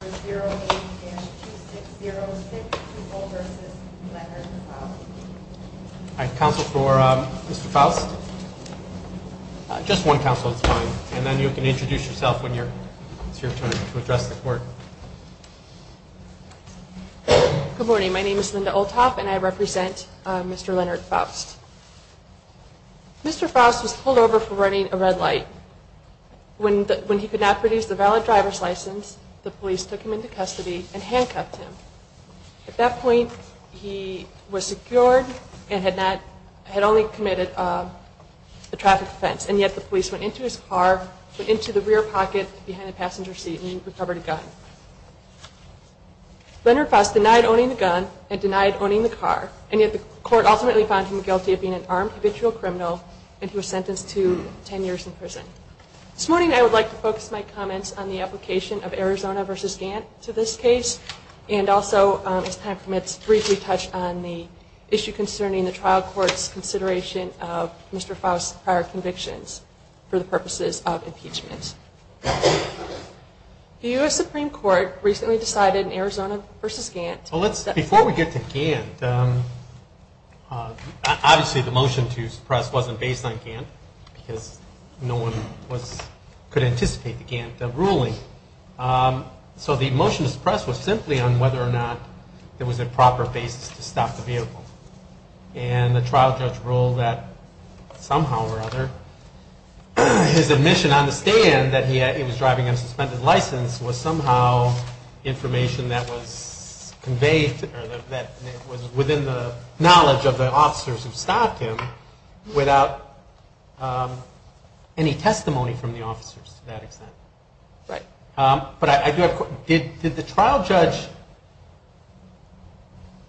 Mr. Faust was pulled over for running a red light. When he could not produce the valid driver's license, the police took him into custody and handcuffed him. At that point, he was secured and had only committed a traffic offense, and yet the police went into his car, went into the rear pocket behind the passenger seat, and recovered a gun. Leonard Faust denied owning the gun and denied owning the car, and yet the court ultimately found him guilty of being an armed habitual criminal, and he was sentenced to 10 And also, as time permits, briefly touched on the issue concerning the trial court's consideration of Mr. Faust's prior convictions for the purposes of impeachment. The U.S. Supreme Court recently decided in Arizona v. Gantt Before we get to Gantt, obviously the motion to suppress wasn't based on Gantt because no one could anticipate the Gantt ruling. So the motion to suppress was simply on whether or not there was a proper basis to stop the vehicle. And the trial judge ruled that somehow or other, his admission on the stand that he was driving an unsuspended license was somehow information that was conveyed or that was within the trial judge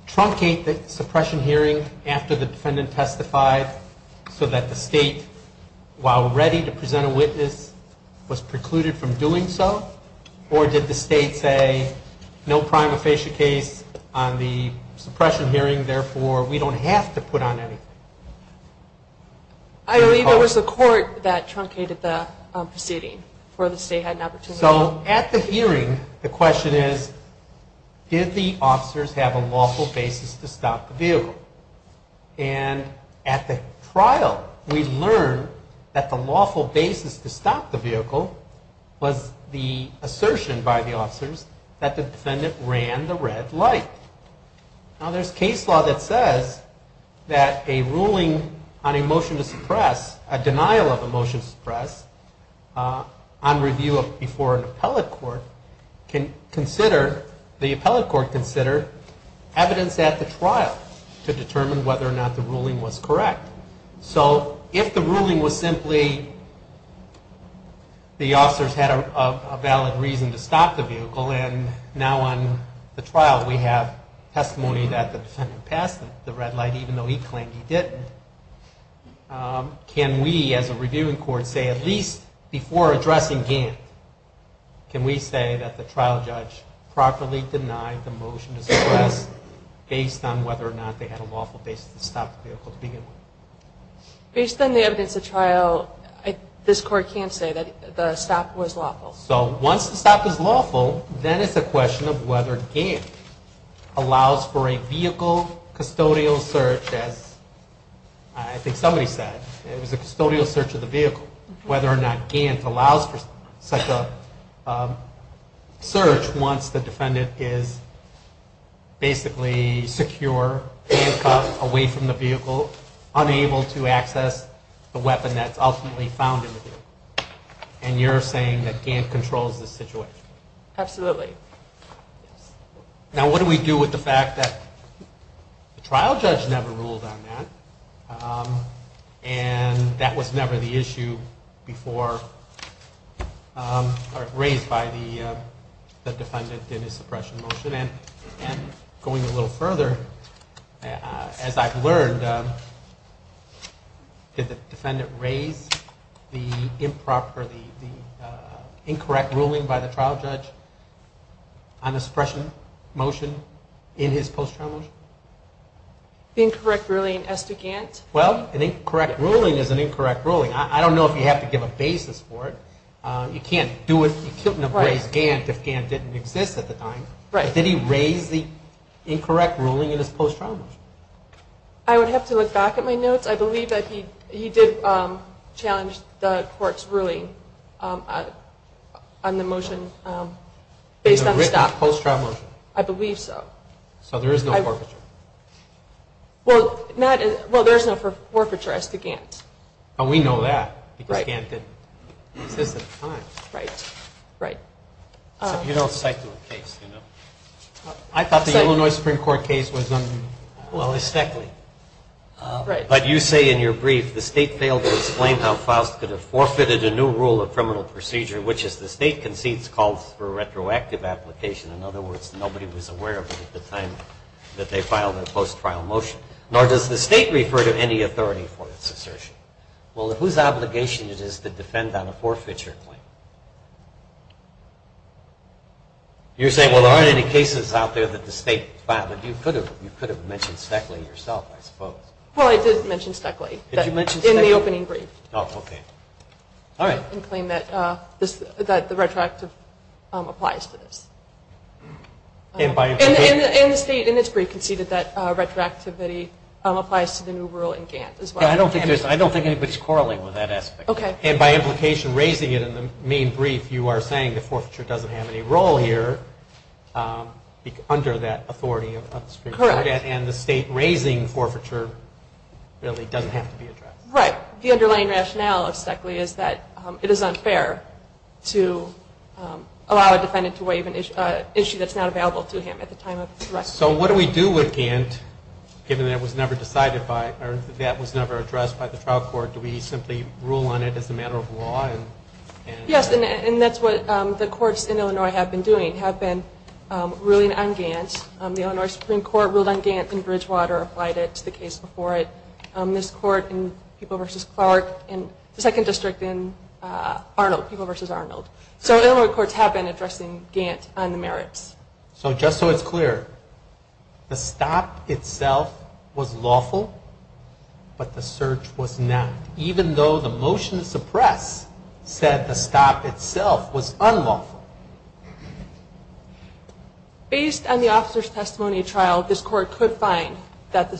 truncate the suppression hearing after the defendant testified so that the state, while ready to present a witness, was precluded from doing so? Or did the state say no prima facie case on the suppression hearing, therefore we don't have to put on anything? I believe it was the court that truncated the proceeding for the state had an opportunity to do so. At the hearing, the question is, did the officers have a lawful basis to stop the vehicle? And at the trial, we learned that the lawful basis to stop the vehicle was that the ruling on a motion to suppress, a denial of a motion to suppress, on review before an appellate court, the appellate court considered evidence at the trial to determine whether or not the ruling was correct. So if the ruling was simply the officers had a valid reason to stop the vehicle, and now on the trial we have testimony that the defendant passed the red light even though he claimed he didn't, can we as a reviewing court say at least before addressing Gant, can we say that the trial judge properly denied the motion to suppress based on whether or not they had a lawful basis to stop the vehicle to begin with? Based on the evidence at trial, this court can't say that the stop was lawful. So once the stop is lawful, then it's a question of whether Gant allows for a vehicle custodial search, as I think somebody said, it was a custodial search of the vehicle, whether or not Gant allows for such a search once the defendant is basically secure, handcuffed, away from the vehicle, unable to control the situation. Absolutely. Now what do we do with the fact that the trial judge never ruled on that, and that was never the issue before, raised by the defendant in his suppression motion, and going a little further, as I've learned, did the defendant raise the improper, the incorrect ruling by the trial judge on the suppression motion in his post-trial motion? The incorrect ruling as to Gant? Well, an incorrect ruling is an incorrect ruling. I don't know if you have to give a basis for it. You can't do it, you can't raise Gant if Gant didn't exist at the time. Did he raise the incorrect ruling in his post-trial motion? I would have to look back at my notes. I believe that he did challenge the court's ruling on the motion based on the stop. Post-trial motion? I believe so. So there is no forfeiture? Well, there is no forfeiture as to Gant. Oh, we know that, because Gant didn't exist at the time. Right, right. Except you don't cite to a case, you know? I thought the Illinois Supreme Court case was under the statute. But you say in your brief, the state failed to explain how Faust could have forfeited a new rule of criminal procedure, which is the state concedes calls for a retroactive application. In other words, nobody was aware of it at the time that they filed their post-trial motion. Nor does the state refer to any authority for its assertion. Well, whose obligation is it to defend on a forfeiture claim? You're saying, well, there aren't any cases out there that the state filed. You could have mentioned Steckley yourself, I suppose. Well, I did mention Steckley. Did you mention Steckley? In the opening brief. Oh, okay. All right. And claim that the retroactive applies to this. And the state, in its brief, conceded that retroactivity applies to the new rule in Gant as well. I don't think anybody's quarreling with that aspect. Okay. And by implication, raising it in the main brief, you are saying the forfeiture doesn't have any role here under that authority of the Supreme Court. Correct. And the state raising forfeiture really doesn't have to be addressed. Right. The underlying rationale of Steckley is that it is unfair to allow a defendant to waive an issue that's not available to him at the time of the arrest. So what do we do with Gant, given that it was never decided by, or that was never addressed by the trial court? Do we simply rule on it as a matter of law? Yes, and that's what the courts in Illinois have been doing, have been ruling on Gant. The Illinois Supreme Court ruled on Gant in Bridgewater, applied it to the case before it. This court in People v. Clark, and the second district in Arnold, People v. Arnold. So Illinois courts have been addressing Gant on the merits. So just so it's clear, the stop itself was lawful, but the search was not. Even though the motion to suppress said the stop itself was unlawful. Based on the officer's testimony at trial, this court could find that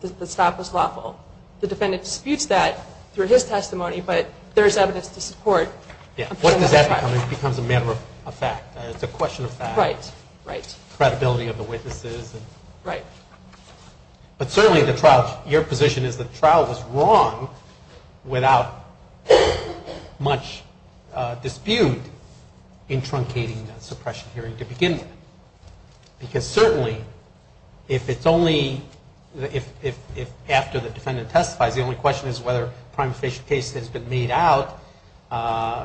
the stop was lawful. The defendant disputes that through his testimony, but there is evidence to support. Yeah, what does that become? It becomes a matter of fact. It's a question of fact. Right, right. Credibility of the witnesses. Right. But certainly the trial, your position is that the trial was wrong without much dispute in truncating that suppression hearing to begin with. Because certainly, if it's only, if after the defendant testifies, the only question is whether a prima facie case has been made out,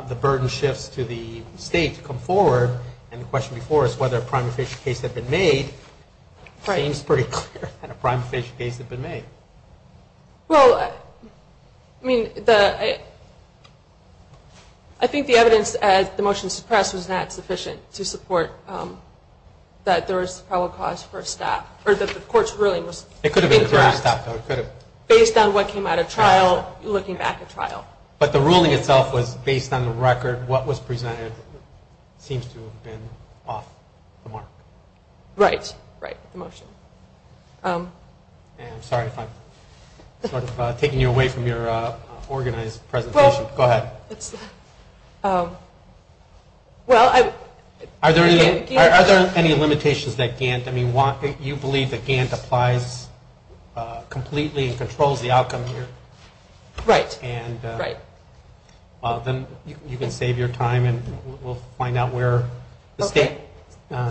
the burden shifts to the state to come forward. And the question before us, whether a prima facie case had been made, seems pretty clear that a prima facie case had been made. Well, I mean, I think the evidence at the motion to suppress was not sufficient to support that there was a probable cause for a stop. Or that the court's ruling was incorrect. It could have been a correct stop though, it could have. Based on what came out of trial, looking back at trial. But the ruling itself was based on the record. What was presented seems to have been off the mark. Right, right, the motion. And I'm sorry if I'm sort of taking you away from your organized presentation. Go ahead. Well, I... Are there any limitations that Gant, I mean, you believe that Gant applies completely and controls the outcome here? Right, right. Well, then you can save your time and we'll find out where the state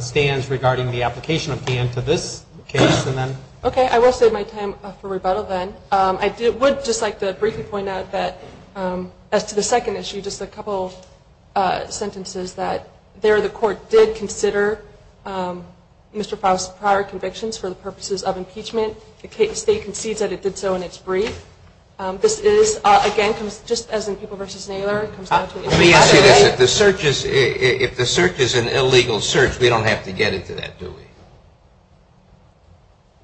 stands regarding the application of Gant to this case and then... Okay, I will save my time for rebuttal then. I would just like to briefly point out that as to the second issue, just a couple sentences that there the court did consider Mr. Faust's prior convictions for the purposes of impeachment. The state concedes that it did so in its brief. This is, again, just as in People v. Naylor, it comes down to... Let me ask you this, if the search is an illegal search, we don't have to get into that, do we?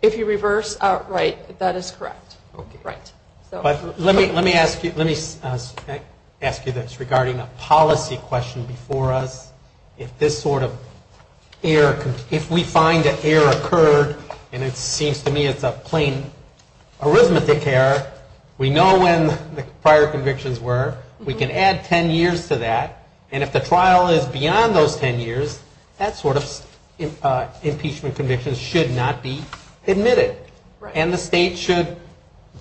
If you reverse, right, that is correct. Okay. Right. But let me ask you this regarding a policy question before us. If this sort of error... If we find that error occurred and it seems to me it's a plain arithmetic error, we know when the prior convictions were, we can add 10 years to that and if the trial is beyond those 10 years, that sort of impeachment conviction should not be admitted. Right. And the state should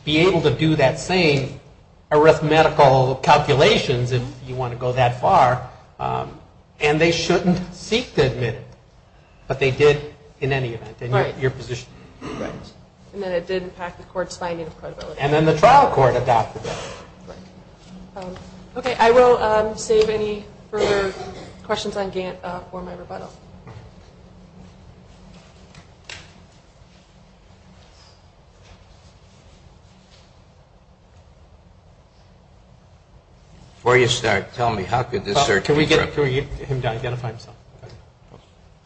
be able to do that same arithmetical calculations if you want to go that far and they shouldn't seek to admit it, but they did in any event in your position. Right. And then it did impact the court's finding of credibility. And then the trial court adopted it. Right. Okay, I will save any further questions on Gantt for my rebuttal. Before you start, tell me how could this search be... Can we get him to identify himself?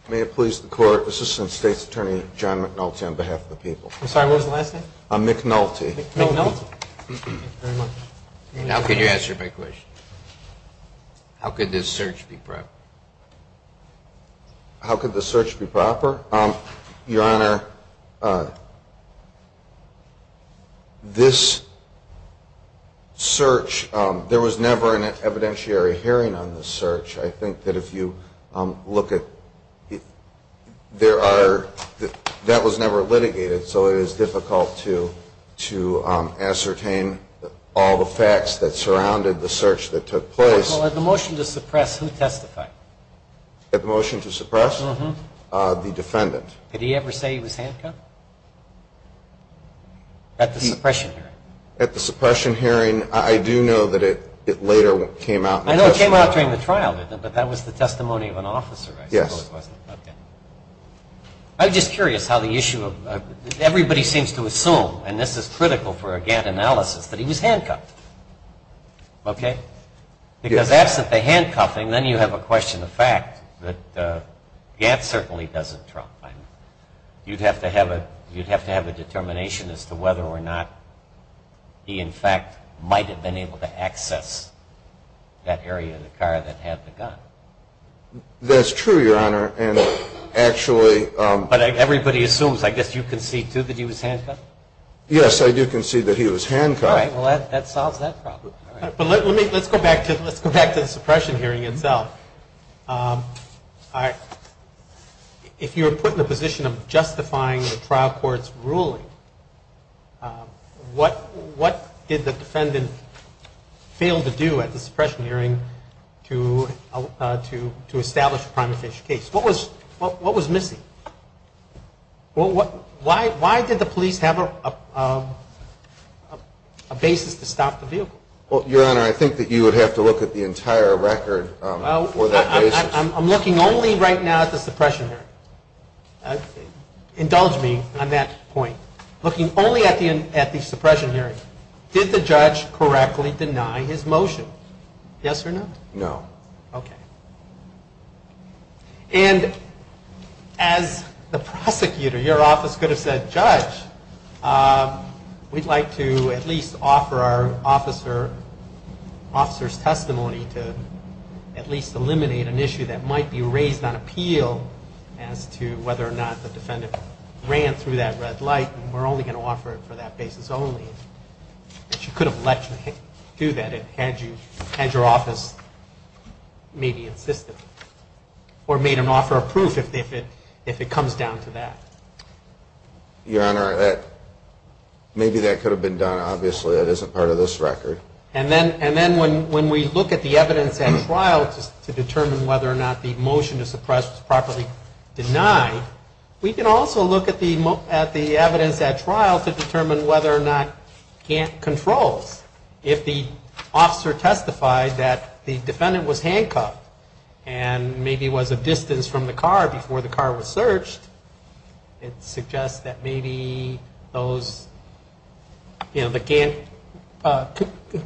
May it please the court, Assistant State's Attorney John McNulty on behalf of the people. I'm sorry, what was the last name? McNulty. McNulty. Thank you very much. Now can you answer my question? How could this search be proper? How could this search be proper? Your Honor, this search, there was never an evidentiary hearing on this search. I think that if you look at, there are, that was never litigated, so it is difficult to ascertain all the facts that surrounded the search that took place. At the motion to suppress, who testified? At the motion to suppress? Uh-huh. The defendant. Did he ever say he was handcuffed? At the suppression hearing. At the suppression hearing, I do know that it later came out in the testimony. I know it came out during the trial, but that was the testimony of an officer, I suppose. Yes. Okay. I'm just curious how the issue of, everybody seems to assume, and this is critical for a Gantt analysis, that he was handcuffed. Okay? Because absent the handcuffing, then you have a question of fact that Gantt certainly doesn't trump. You'd have to have a determination as to whether or not he, in fact, might have been able to access that area of the car that had the gun. That's true, Your Honor, and actually. But everybody assumes. I guess you concede, too, that he was handcuffed? Yes, I do concede that he was handcuffed. All right. Well, that solves that problem. But let's go back to the suppression hearing itself. If you were put in the position of justifying the trial court's ruling, what did the defendant fail to do at the suppression hearing to establish a prime official case? What was missing? Why did the police have a basis to stop the vehicle? Well, Your Honor, I think that you would have to look at the entire record for that basis. I'm looking only right now at the suppression hearing. Indulge me on that point. Looking only at the suppression hearing, did the judge correctly deny his motion? Yes or no? No. Okay. And as the prosecutor, your office could have said, Judge, we'd like to at least offer our officer's testimony to at least eliminate an issue that might be raised on appeal as to whether or not the defendant ran through that red light. We're only going to offer it for that basis only. But you could have let him do that had your office maybe insisted or made an offer of proof if it comes down to that. Your Honor, maybe that could have been done. Obviously, that isn't part of this record. And then when we look at the evidence at trial to determine whether or not the motion to suppress was properly denied, we can also look at the evidence at trial to determine whether or not Gantt controls. If the officer testified that the defendant was handcuffed and maybe was a distance from the car before the car was searched, it suggests that maybe those, you know, the Gantt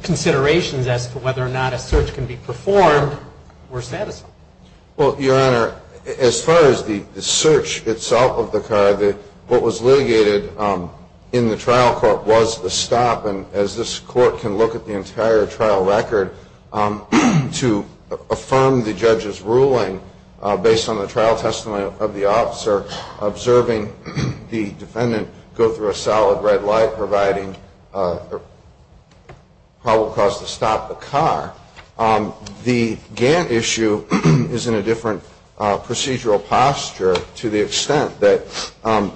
considerations as to whether or not a search can be performed were satisfied. Well, Your Honor, as far as the search itself of the car, what was litigated in the trial court was a stop, and as this court can look at the entire trial record, to affirm the judge's ruling based on the trial testimony of the officer, observing the defendant go through a solid red light providing probable cause to stop the car. The Gantt issue is in a different procedural posture to the extent that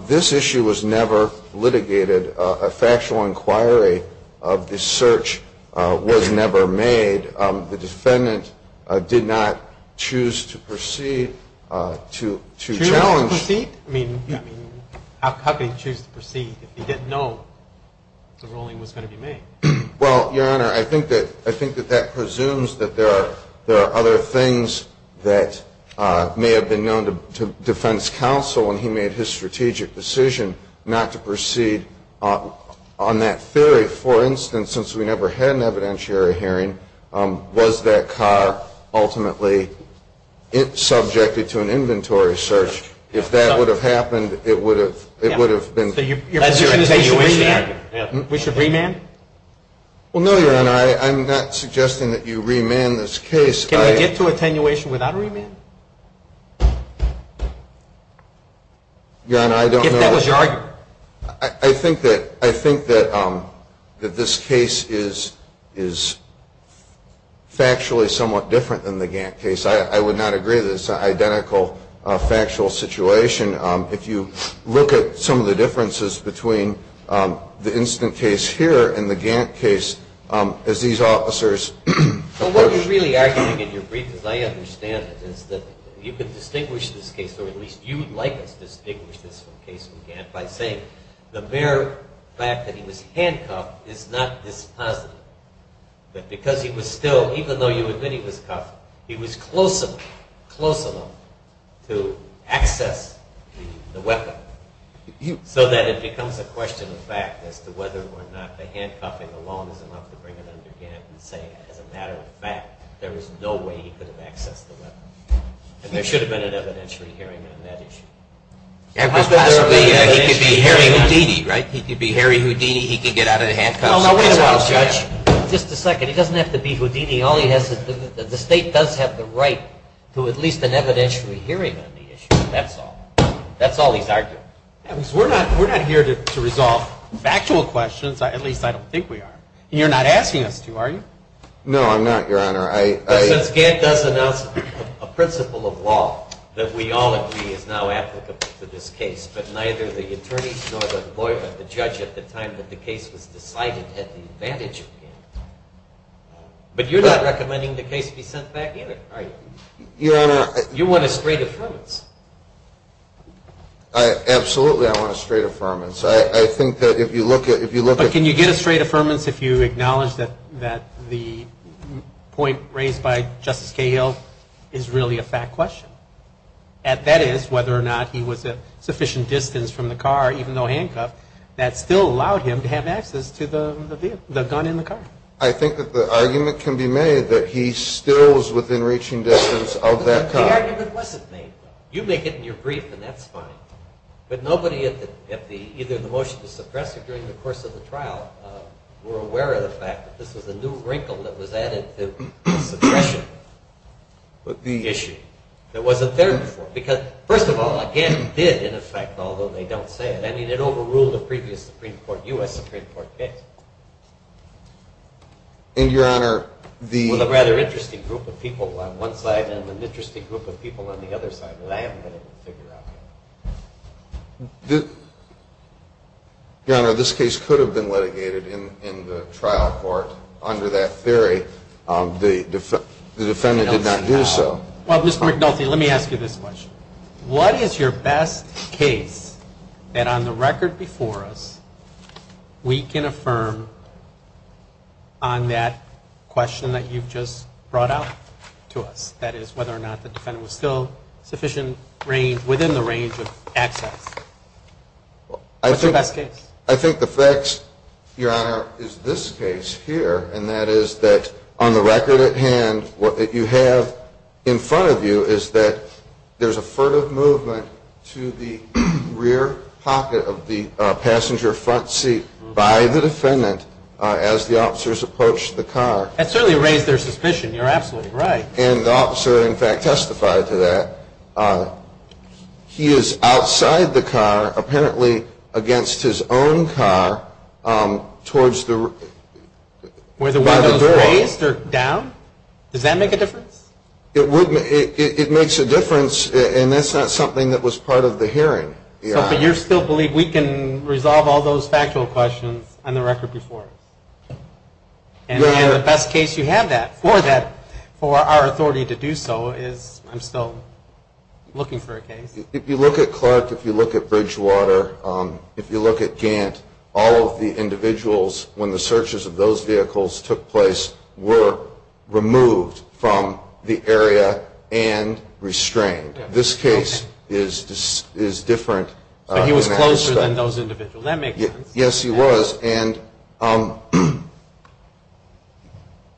this issue was never litigated. A factual inquiry of the search was never made. The defendant did not choose to proceed to challenge... Choose to proceed? I mean, how could he choose to proceed if he didn't know the ruling was going to be made? Well, Your Honor, I think that that presumes that there are other things that may have been known to defense counsel when he made his strategic decision not to proceed on that theory. For instance, since we never had an evidentiary hearing, was that car ultimately subjected to an inventory search? If that would have happened, it would have been... So your position is that you remand? We should remand? Well, no, Your Honor, I'm not suggesting that you remand this case. Can we get to attenuation without a remand? Your Honor, I don't know... If that was your argument. I think that this case is factually somewhat different than the Gantt case. I would not agree that it's an identical factual situation. If you look at some of the differences between the instant case here and the Gantt case, as these officers... What you're really arguing in your brief, as I understand it, is that you can distinguish this case, or at least you would like us to distinguish this case from Gantt, by saying the mere fact that he was handcuffed is not this positive. But because he was still, even though you admit he was cuffed, he was close enough to access the weapon so that it becomes a question of fact as to whether or not the handcuffing alone is enough to bring it under Gantt and say, as a matter of fact, there is no way he could have accessed the weapon. And there should have been an evidentiary hearing on that issue. He could be Harry Houdini, right? He could be Harry Houdini. He could get out of the handcuffs. Just a second. He doesn't have to be Houdini. The state does have the right to at least an evidentiary hearing on the issue. That's all. That's all he's arguing. We're not here to resolve factual questions. At least I don't think we are. And you're not asking us to, are you? No, I'm not, Your Honor. Since Gantt does announce a principle of law that we all agree is now applicable to this case, but neither the attorneys nor the judge at the time that the case was decided had the advantage of Gantt. But you're not recommending the case be sent back in, are you? Your Honor. You want a straight affirmance. Absolutely I want a straight affirmance. I think that if you look at it. But can you get a straight affirmance if you acknowledge that the point raised by Justice Cahill is really a fact question? That is, whether or not he was at sufficient distance from the car, even though handcuffed, that still allowed him to have access to the gun in the car. I think that the argument can be made that he still was within reaching distance of that car. The argument wasn't made. You make it in your brief and that's fine. But nobody at either the motion to suppress it during the course of the trial were aware of the fact that this was a new wrinkle that was added to the suppression issue that wasn't there before. Because, first of all, Gantt did, in effect, although they don't say it. I mean, it overruled a previous Supreme Court, U.S. Supreme Court case. And, Your Honor, the... Well, a rather interesting group of people on one side and an interesting group of people on the other side that I haven't been able to figure out yet. Your Honor, this case could have been litigated in the trial court under that theory. The defendant did not do so. Well, Mr. McNulty, let me ask you this question. What is your best case that, on the record before us, we can affirm on that question that you've just brought out to us? That is, whether or not the defendant was still sufficient range, within the range of access. What's your best case? I think the facts, Your Honor, is this case here, and that is that, on the record at hand, what you have in front of you is that there's a furtive movement to the rear pocket of the passenger front seat by the defendant as the officers approached the car. That certainly raised their suspicion. You're absolutely right. And the officer, in fact, testified to that. He is outside the car, apparently against his own car, towards the... Were the windows raised or down? Does that make a difference? It makes a difference, and that's not something that was part of the hearing. But you still believe we can resolve all those factual questions on the record before us? And the best case you have that, for that, for our authority to do so is, I'm still looking for a case. If you look at Clark, if you look at Bridgewater, if you look at Gant, all of the individuals, when the searches of those vehicles took place, were removed from the area and restrained. This case is different in that respect. So he was closer than those individuals. That makes sense. Yes, he was. And,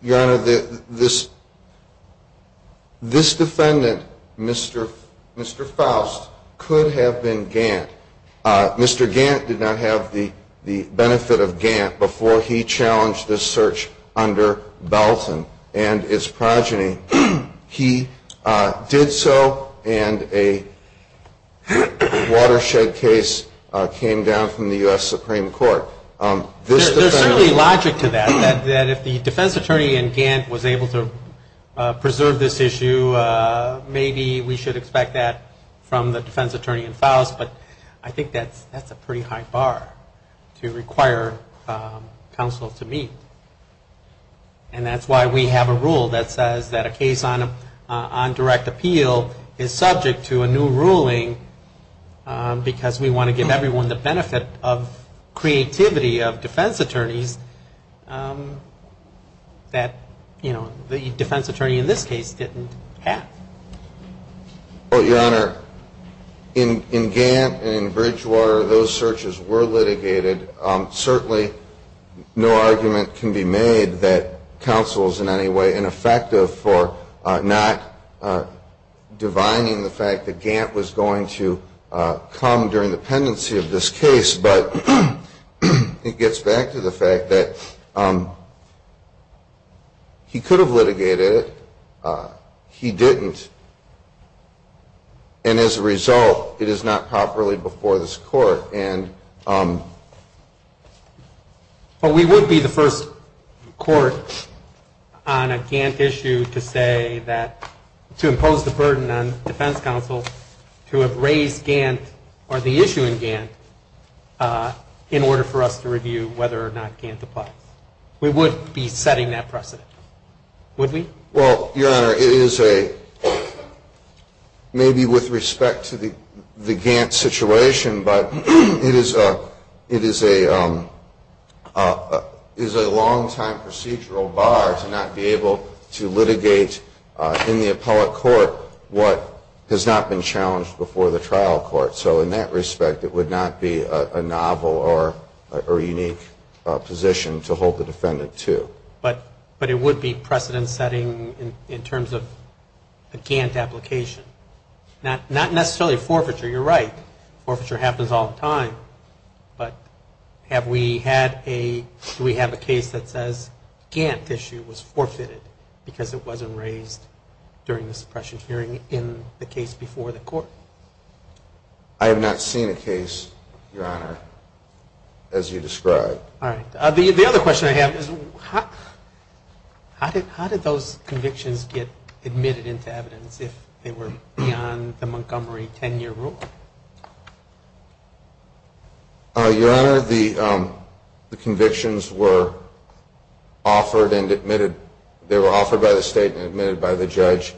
Your Honor, this defendant, Mr. Faust, could have been Gant. Mr. Gant did not have the benefit of Gant before he challenged this search under Belton and its progeny. He did so, and a watershed case came down from the U.S. Supreme Court. There's certainly logic to that, that if the defense attorney in Gant was able to preserve this issue, maybe we should expect that from the defense attorney in Faust, but I think that's a pretty high bar to require counsel to meet. And that's why we have a rule that says that a case on direct appeal is subject to a new ruling, because we want to give everyone the benefit of creativity of defense attorneys that, you know, the defense attorney in this case didn't have. Well, Your Honor, in Gant and in Bridgewater, those searches were litigated. Certainly no argument can be made that counsel is in any way ineffective for not divining the fact that Gant was going to come during the pendency of this case, but it gets back to the fact that he could have litigated it. He didn't. And as a result, it is not properly before this court. But we would be the first court on a Gant issue to say that, to impose the burden on defense counsel to have raised Gant or the issue in Gant in order for us to review whether or not Gant applies. We would be setting that precedent, would we? Well, Your Honor, it is a, maybe with respect to the Gant situation, but it is a long-time procedural bar to not be able to litigate in the appellate court what has not been challenged before the trial court. So in that respect, it would not be a novel or unique position to hold the defendant to. But it would be precedent-setting in terms of a Gant application. Not necessarily forfeiture. You're right. Forfeiture happens all the time. But have we had a, do we have a case that says Gant issue was forfeited because it wasn't raised during the suppression hearing in the case before the court? I have not seen a case, Your Honor, as you describe. All right. The other question I have is how did those convictions get admitted into evidence if they were beyond the Montgomery 10-year rule? Your Honor, the convictions were offered and admitted, they were offered by the state and admitted by the judge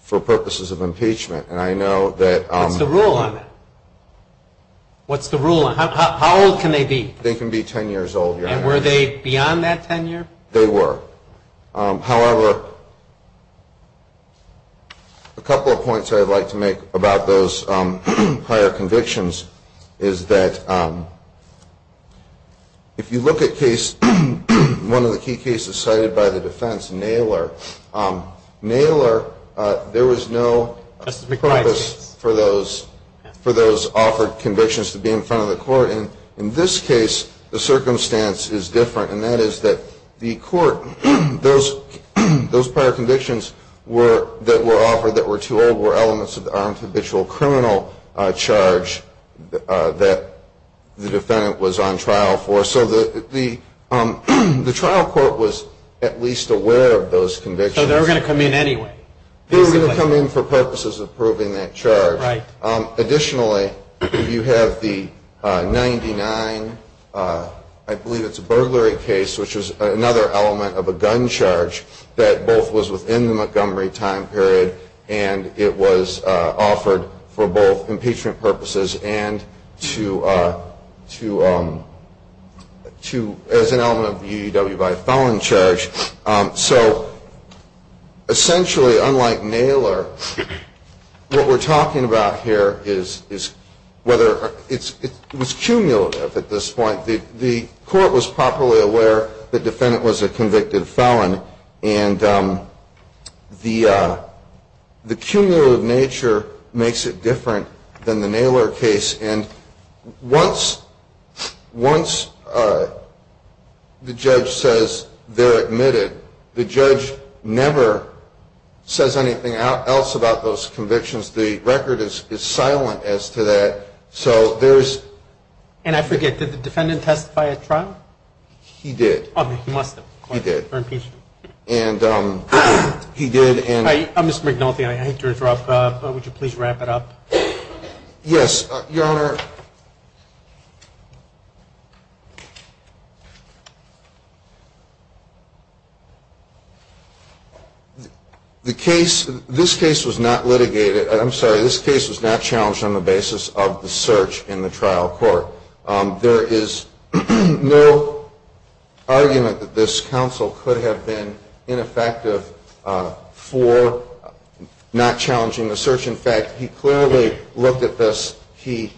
for purposes of impeachment. And I know that. What's the rule on it? What's the rule on it? How old can they be? They can be 10 years old, Your Honor. And were they beyond that 10-year? They were. However, a couple of points I'd like to make about those prior convictions is that if you look at case, one of the key cases cited by the defense, Naylor, Naylor, there was no purpose for those offered convictions to be in front of the court. And in this case, the circumstance is different, and that is that the court, those prior convictions that were offered that were too old were elements of the armed habitual criminal charge that the defendant was on trial for. So the trial court was at least aware of those convictions. So they were going to come in anyway, basically. They were going to come in for purposes of proving that charge. Right. Additionally, you have the 99, I believe it's a burglary case, which is another element of a gun charge that both was within the Montgomery time period and it was offered for both impeachment purposes and to as an element of the UWI felon charge. So essentially, unlike Naylor, what we're talking about here is whether it was cumulative at this point. The court was properly aware the defendant was a convicted felon, and the cumulative nature makes it different than the Naylor case. And once the judge says they're admitted, the judge never says anything else about those convictions. The record is silent as to that. And I forget, did the defendant testify at trial? He did. He must have. He did. Or impeachment. And he did. Mr. McNulty, I hate to interrupt, but would you please wrap it up? Yes, Your Honor. The case, this case was not litigated, I'm sorry, this case was not challenged on the basis of the search in the trial court. There is no argument that this counsel could have been ineffective for not challenging the search. In fact, he clearly looked at this, he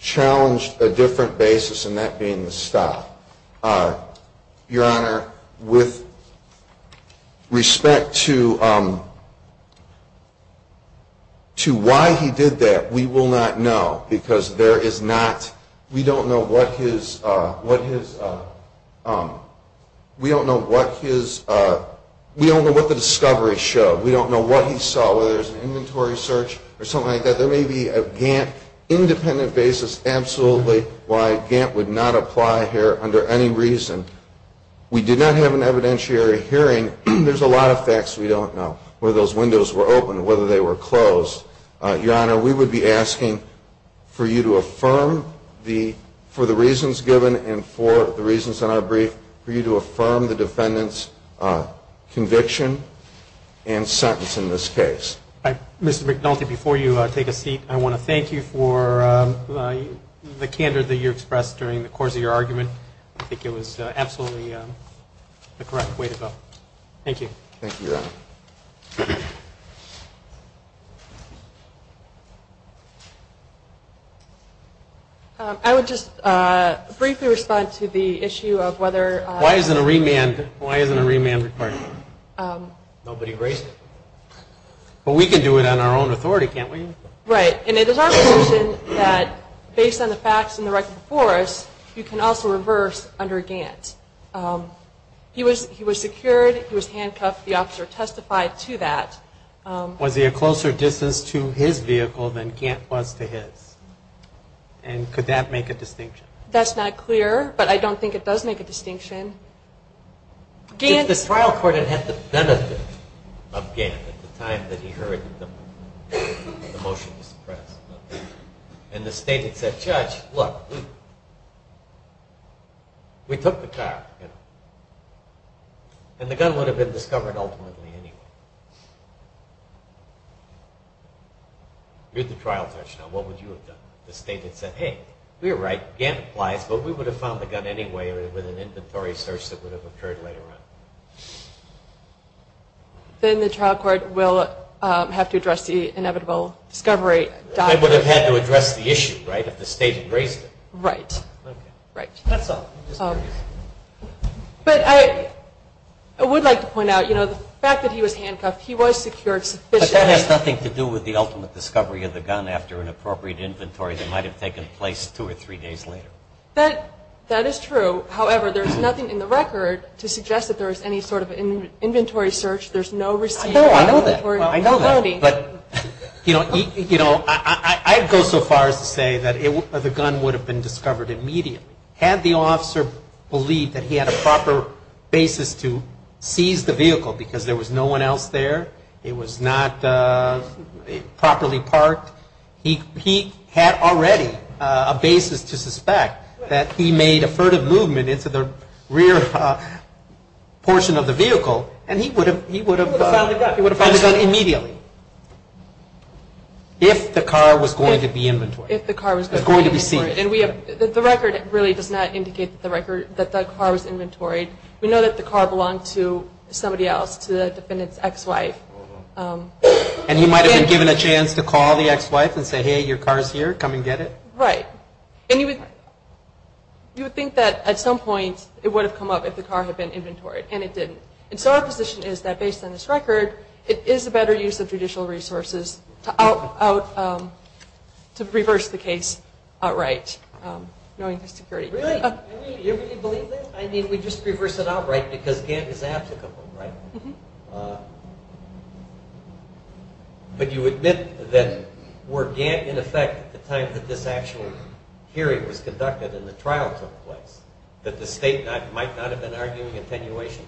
challenged a different basis, and that being the stop. Your Honor, with respect to why he did that, we will not know, because there is not, we don't know what his, we don't know what his, we don't know what the discovery showed. We don't know what he saw, whether it was an inventory search or something like that. There may be a Gantt independent basis absolutely why Gantt would not apply here under any reason. We did not have an evidentiary hearing. There's a lot of facts we don't know, whether those windows were open, whether they were closed. Your Honor, we would be asking for you to affirm the, for the reasons given and for the reasons in our brief, for you to affirm the defendant's conviction and sentence in this case. Mr. McNulty, before you take a seat, I want to thank you for the candor that you expressed during the course of your argument. I think it was absolutely the correct way to go. Thank you. Thank you, Your Honor. I would just briefly respond to the issue of whether- Why isn't a remand, why isn't a remand required? Nobody raised it. But we can do it on our own authority, can't we? Right, and it is our position that based on the facts and the record before us, you can also reverse under Gantt. He was secured. He was handcuffed. The officer testified to that. Was he a closer distance to his vehicle than Gantt was to his? And could that make a distinction? That's not clear, but I don't think it does make a distinction. The trial court had had the benefit of Gantt at the time that he heard the motion to suppress. And the state had said, Judge, look, we took the car. And the gun would have been discovered ultimately anyway. You're the trial judge now. What would you have done? The state had said, Hey, you're right, Gantt applies, but we would have found the gun anyway with an inventory search that would have occurred later on. Then the trial court will have to address the inevitable discovery. It would have had to address the issue, right, if the state had raised it. Right. Okay. Right. That's all. But I would like to point out, you know, the fact that he was handcuffed, he was secured sufficiently. But that has nothing to do with the ultimate discovery of the gun after an appropriate inventory that might have taken place two or three days later. That is true. However, there's nothing in the record to suggest that there was any sort of inventory search. There's no receipt. I know that. I know that. But, you know, I'd go so far as to say that the gun would have been discovered immediately. Had the officer believed that he had a proper basis to seize the vehicle because there was no one else there, it was not properly parked, he had already a basis to suspect that he made a furtive movement into the rear portion of the vehicle, and he would have found the gun immediately. If the car was going to be inventoried. If the car was going to be inventoried. It was going to be seized. The record really does not indicate that the car was inventoried. We know that the car belonged to somebody else, to the defendant's ex-wife. And he might have been given a chance to call the ex-wife and say, hey, your car is here, come and get it. Right. And you would think that at some point it would have come up if the car had been inventoried, and it didn't. And so our position is that based on this record, it is a better use of judicial resources to reverse the case outright, knowing the security. Really? You really believe this? I mean, we just reverse it outright because Gant is applicable, right? Mm-hmm. But you admit that were Gant in effect at the time that this actual hearing was conducted and the trial took place, that the state might not have been arguing attenuation?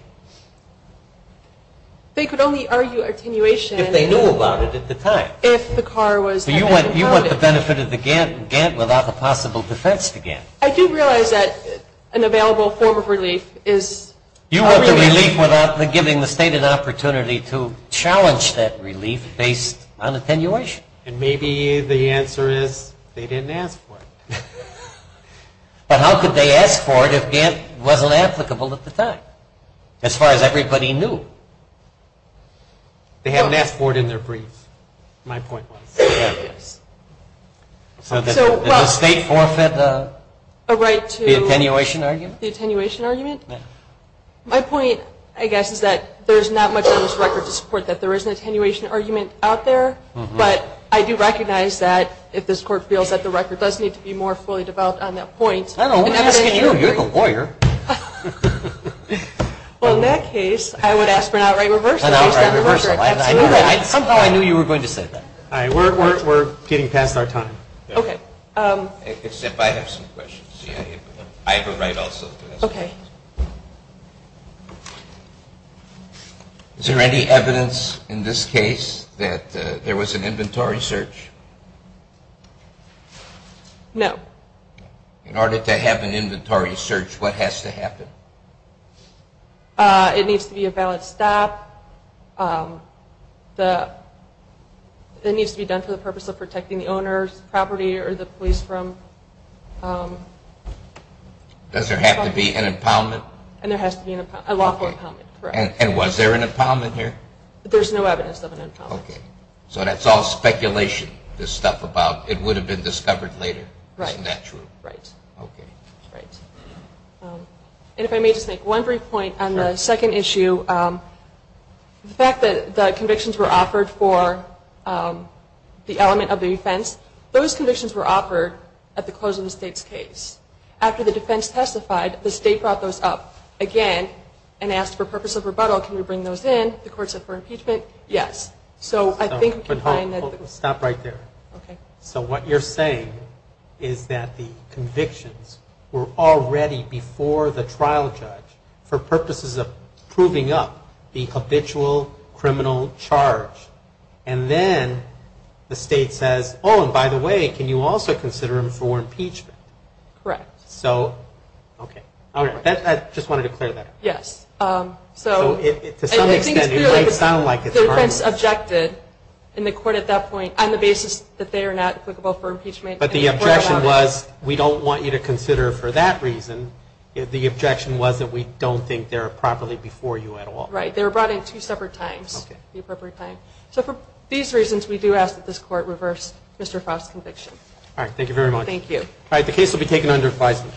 They could only argue attenuation. If they knew about it at the time. If the car was inventoried. You want the benefit of the Gant without the possible defense to Gant. I do realize that an available form of relief is a relief. A relief without giving the state an opportunity to challenge that relief based on attenuation. And maybe the answer is they didn't ask for it. But how could they ask for it if Gant wasn't applicable at the time, as far as everybody knew? They haven't asked for it in their brief, my point was. So does the state forfeit a right to the attenuation argument? The attenuation argument? My point, I guess, is that there's not much on this record to support that there is an attenuation argument out there. But I do recognize that if this court feels that the record does need to be more fully developed on that point. I don't want to ask you. You're the lawyer. Well, in that case, I would ask for an outright reversal. Somehow I knew you were going to say that. We're getting past our time. Okay. Except I have some questions. I have a right also. Okay. Is there any evidence in this case that there was an inventory search? No. In order to have an inventory search, what has to happen? It needs to be a valid stop. It needs to be done for the purpose of protecting the owner's property or the police from. Does there have to be an impoundment? And there has to be a lawful impoundment. And was there an impoundment here? There's no evidence of an impoundment. Okay. So that's all speculation, this stuff about it would have been discovered later. Right. Isn't that true? Right. Okay. Right. And if I may just make one brief point on the second issue, the fact that the convictions were offered for the element of the offense, those convictions were offered at the close of the state's case. After the defense testified, the state brought those up again and asked for purpose of rebuttal, can we bring those in? The courts said for impeachment, yes. So I think we can find that. Stop right there. Okay. So what you're saying is that the convictions were already before the trial judge for purposes of proving up the habitual criminal charge, and then the state says, oh, and by the way, can you also consider them for impeachment? Correct. So, okay. All right. I just wanted to clear that up. Yes. So to some extent it might sound like it's harmless. It was objected in the court at that point on the basis that they are not applicable for impeachment. But the objection was we don't want you to consider for that reason. The objection was that we don't think they're properly before you at all. Right. They were brought in two separate times, the appropriate time. So for these reasons, we do ask that this court reverse Mr. Frost's conviction. All right. Thank you very much. Thank you. All right. The case will be taken under advisement.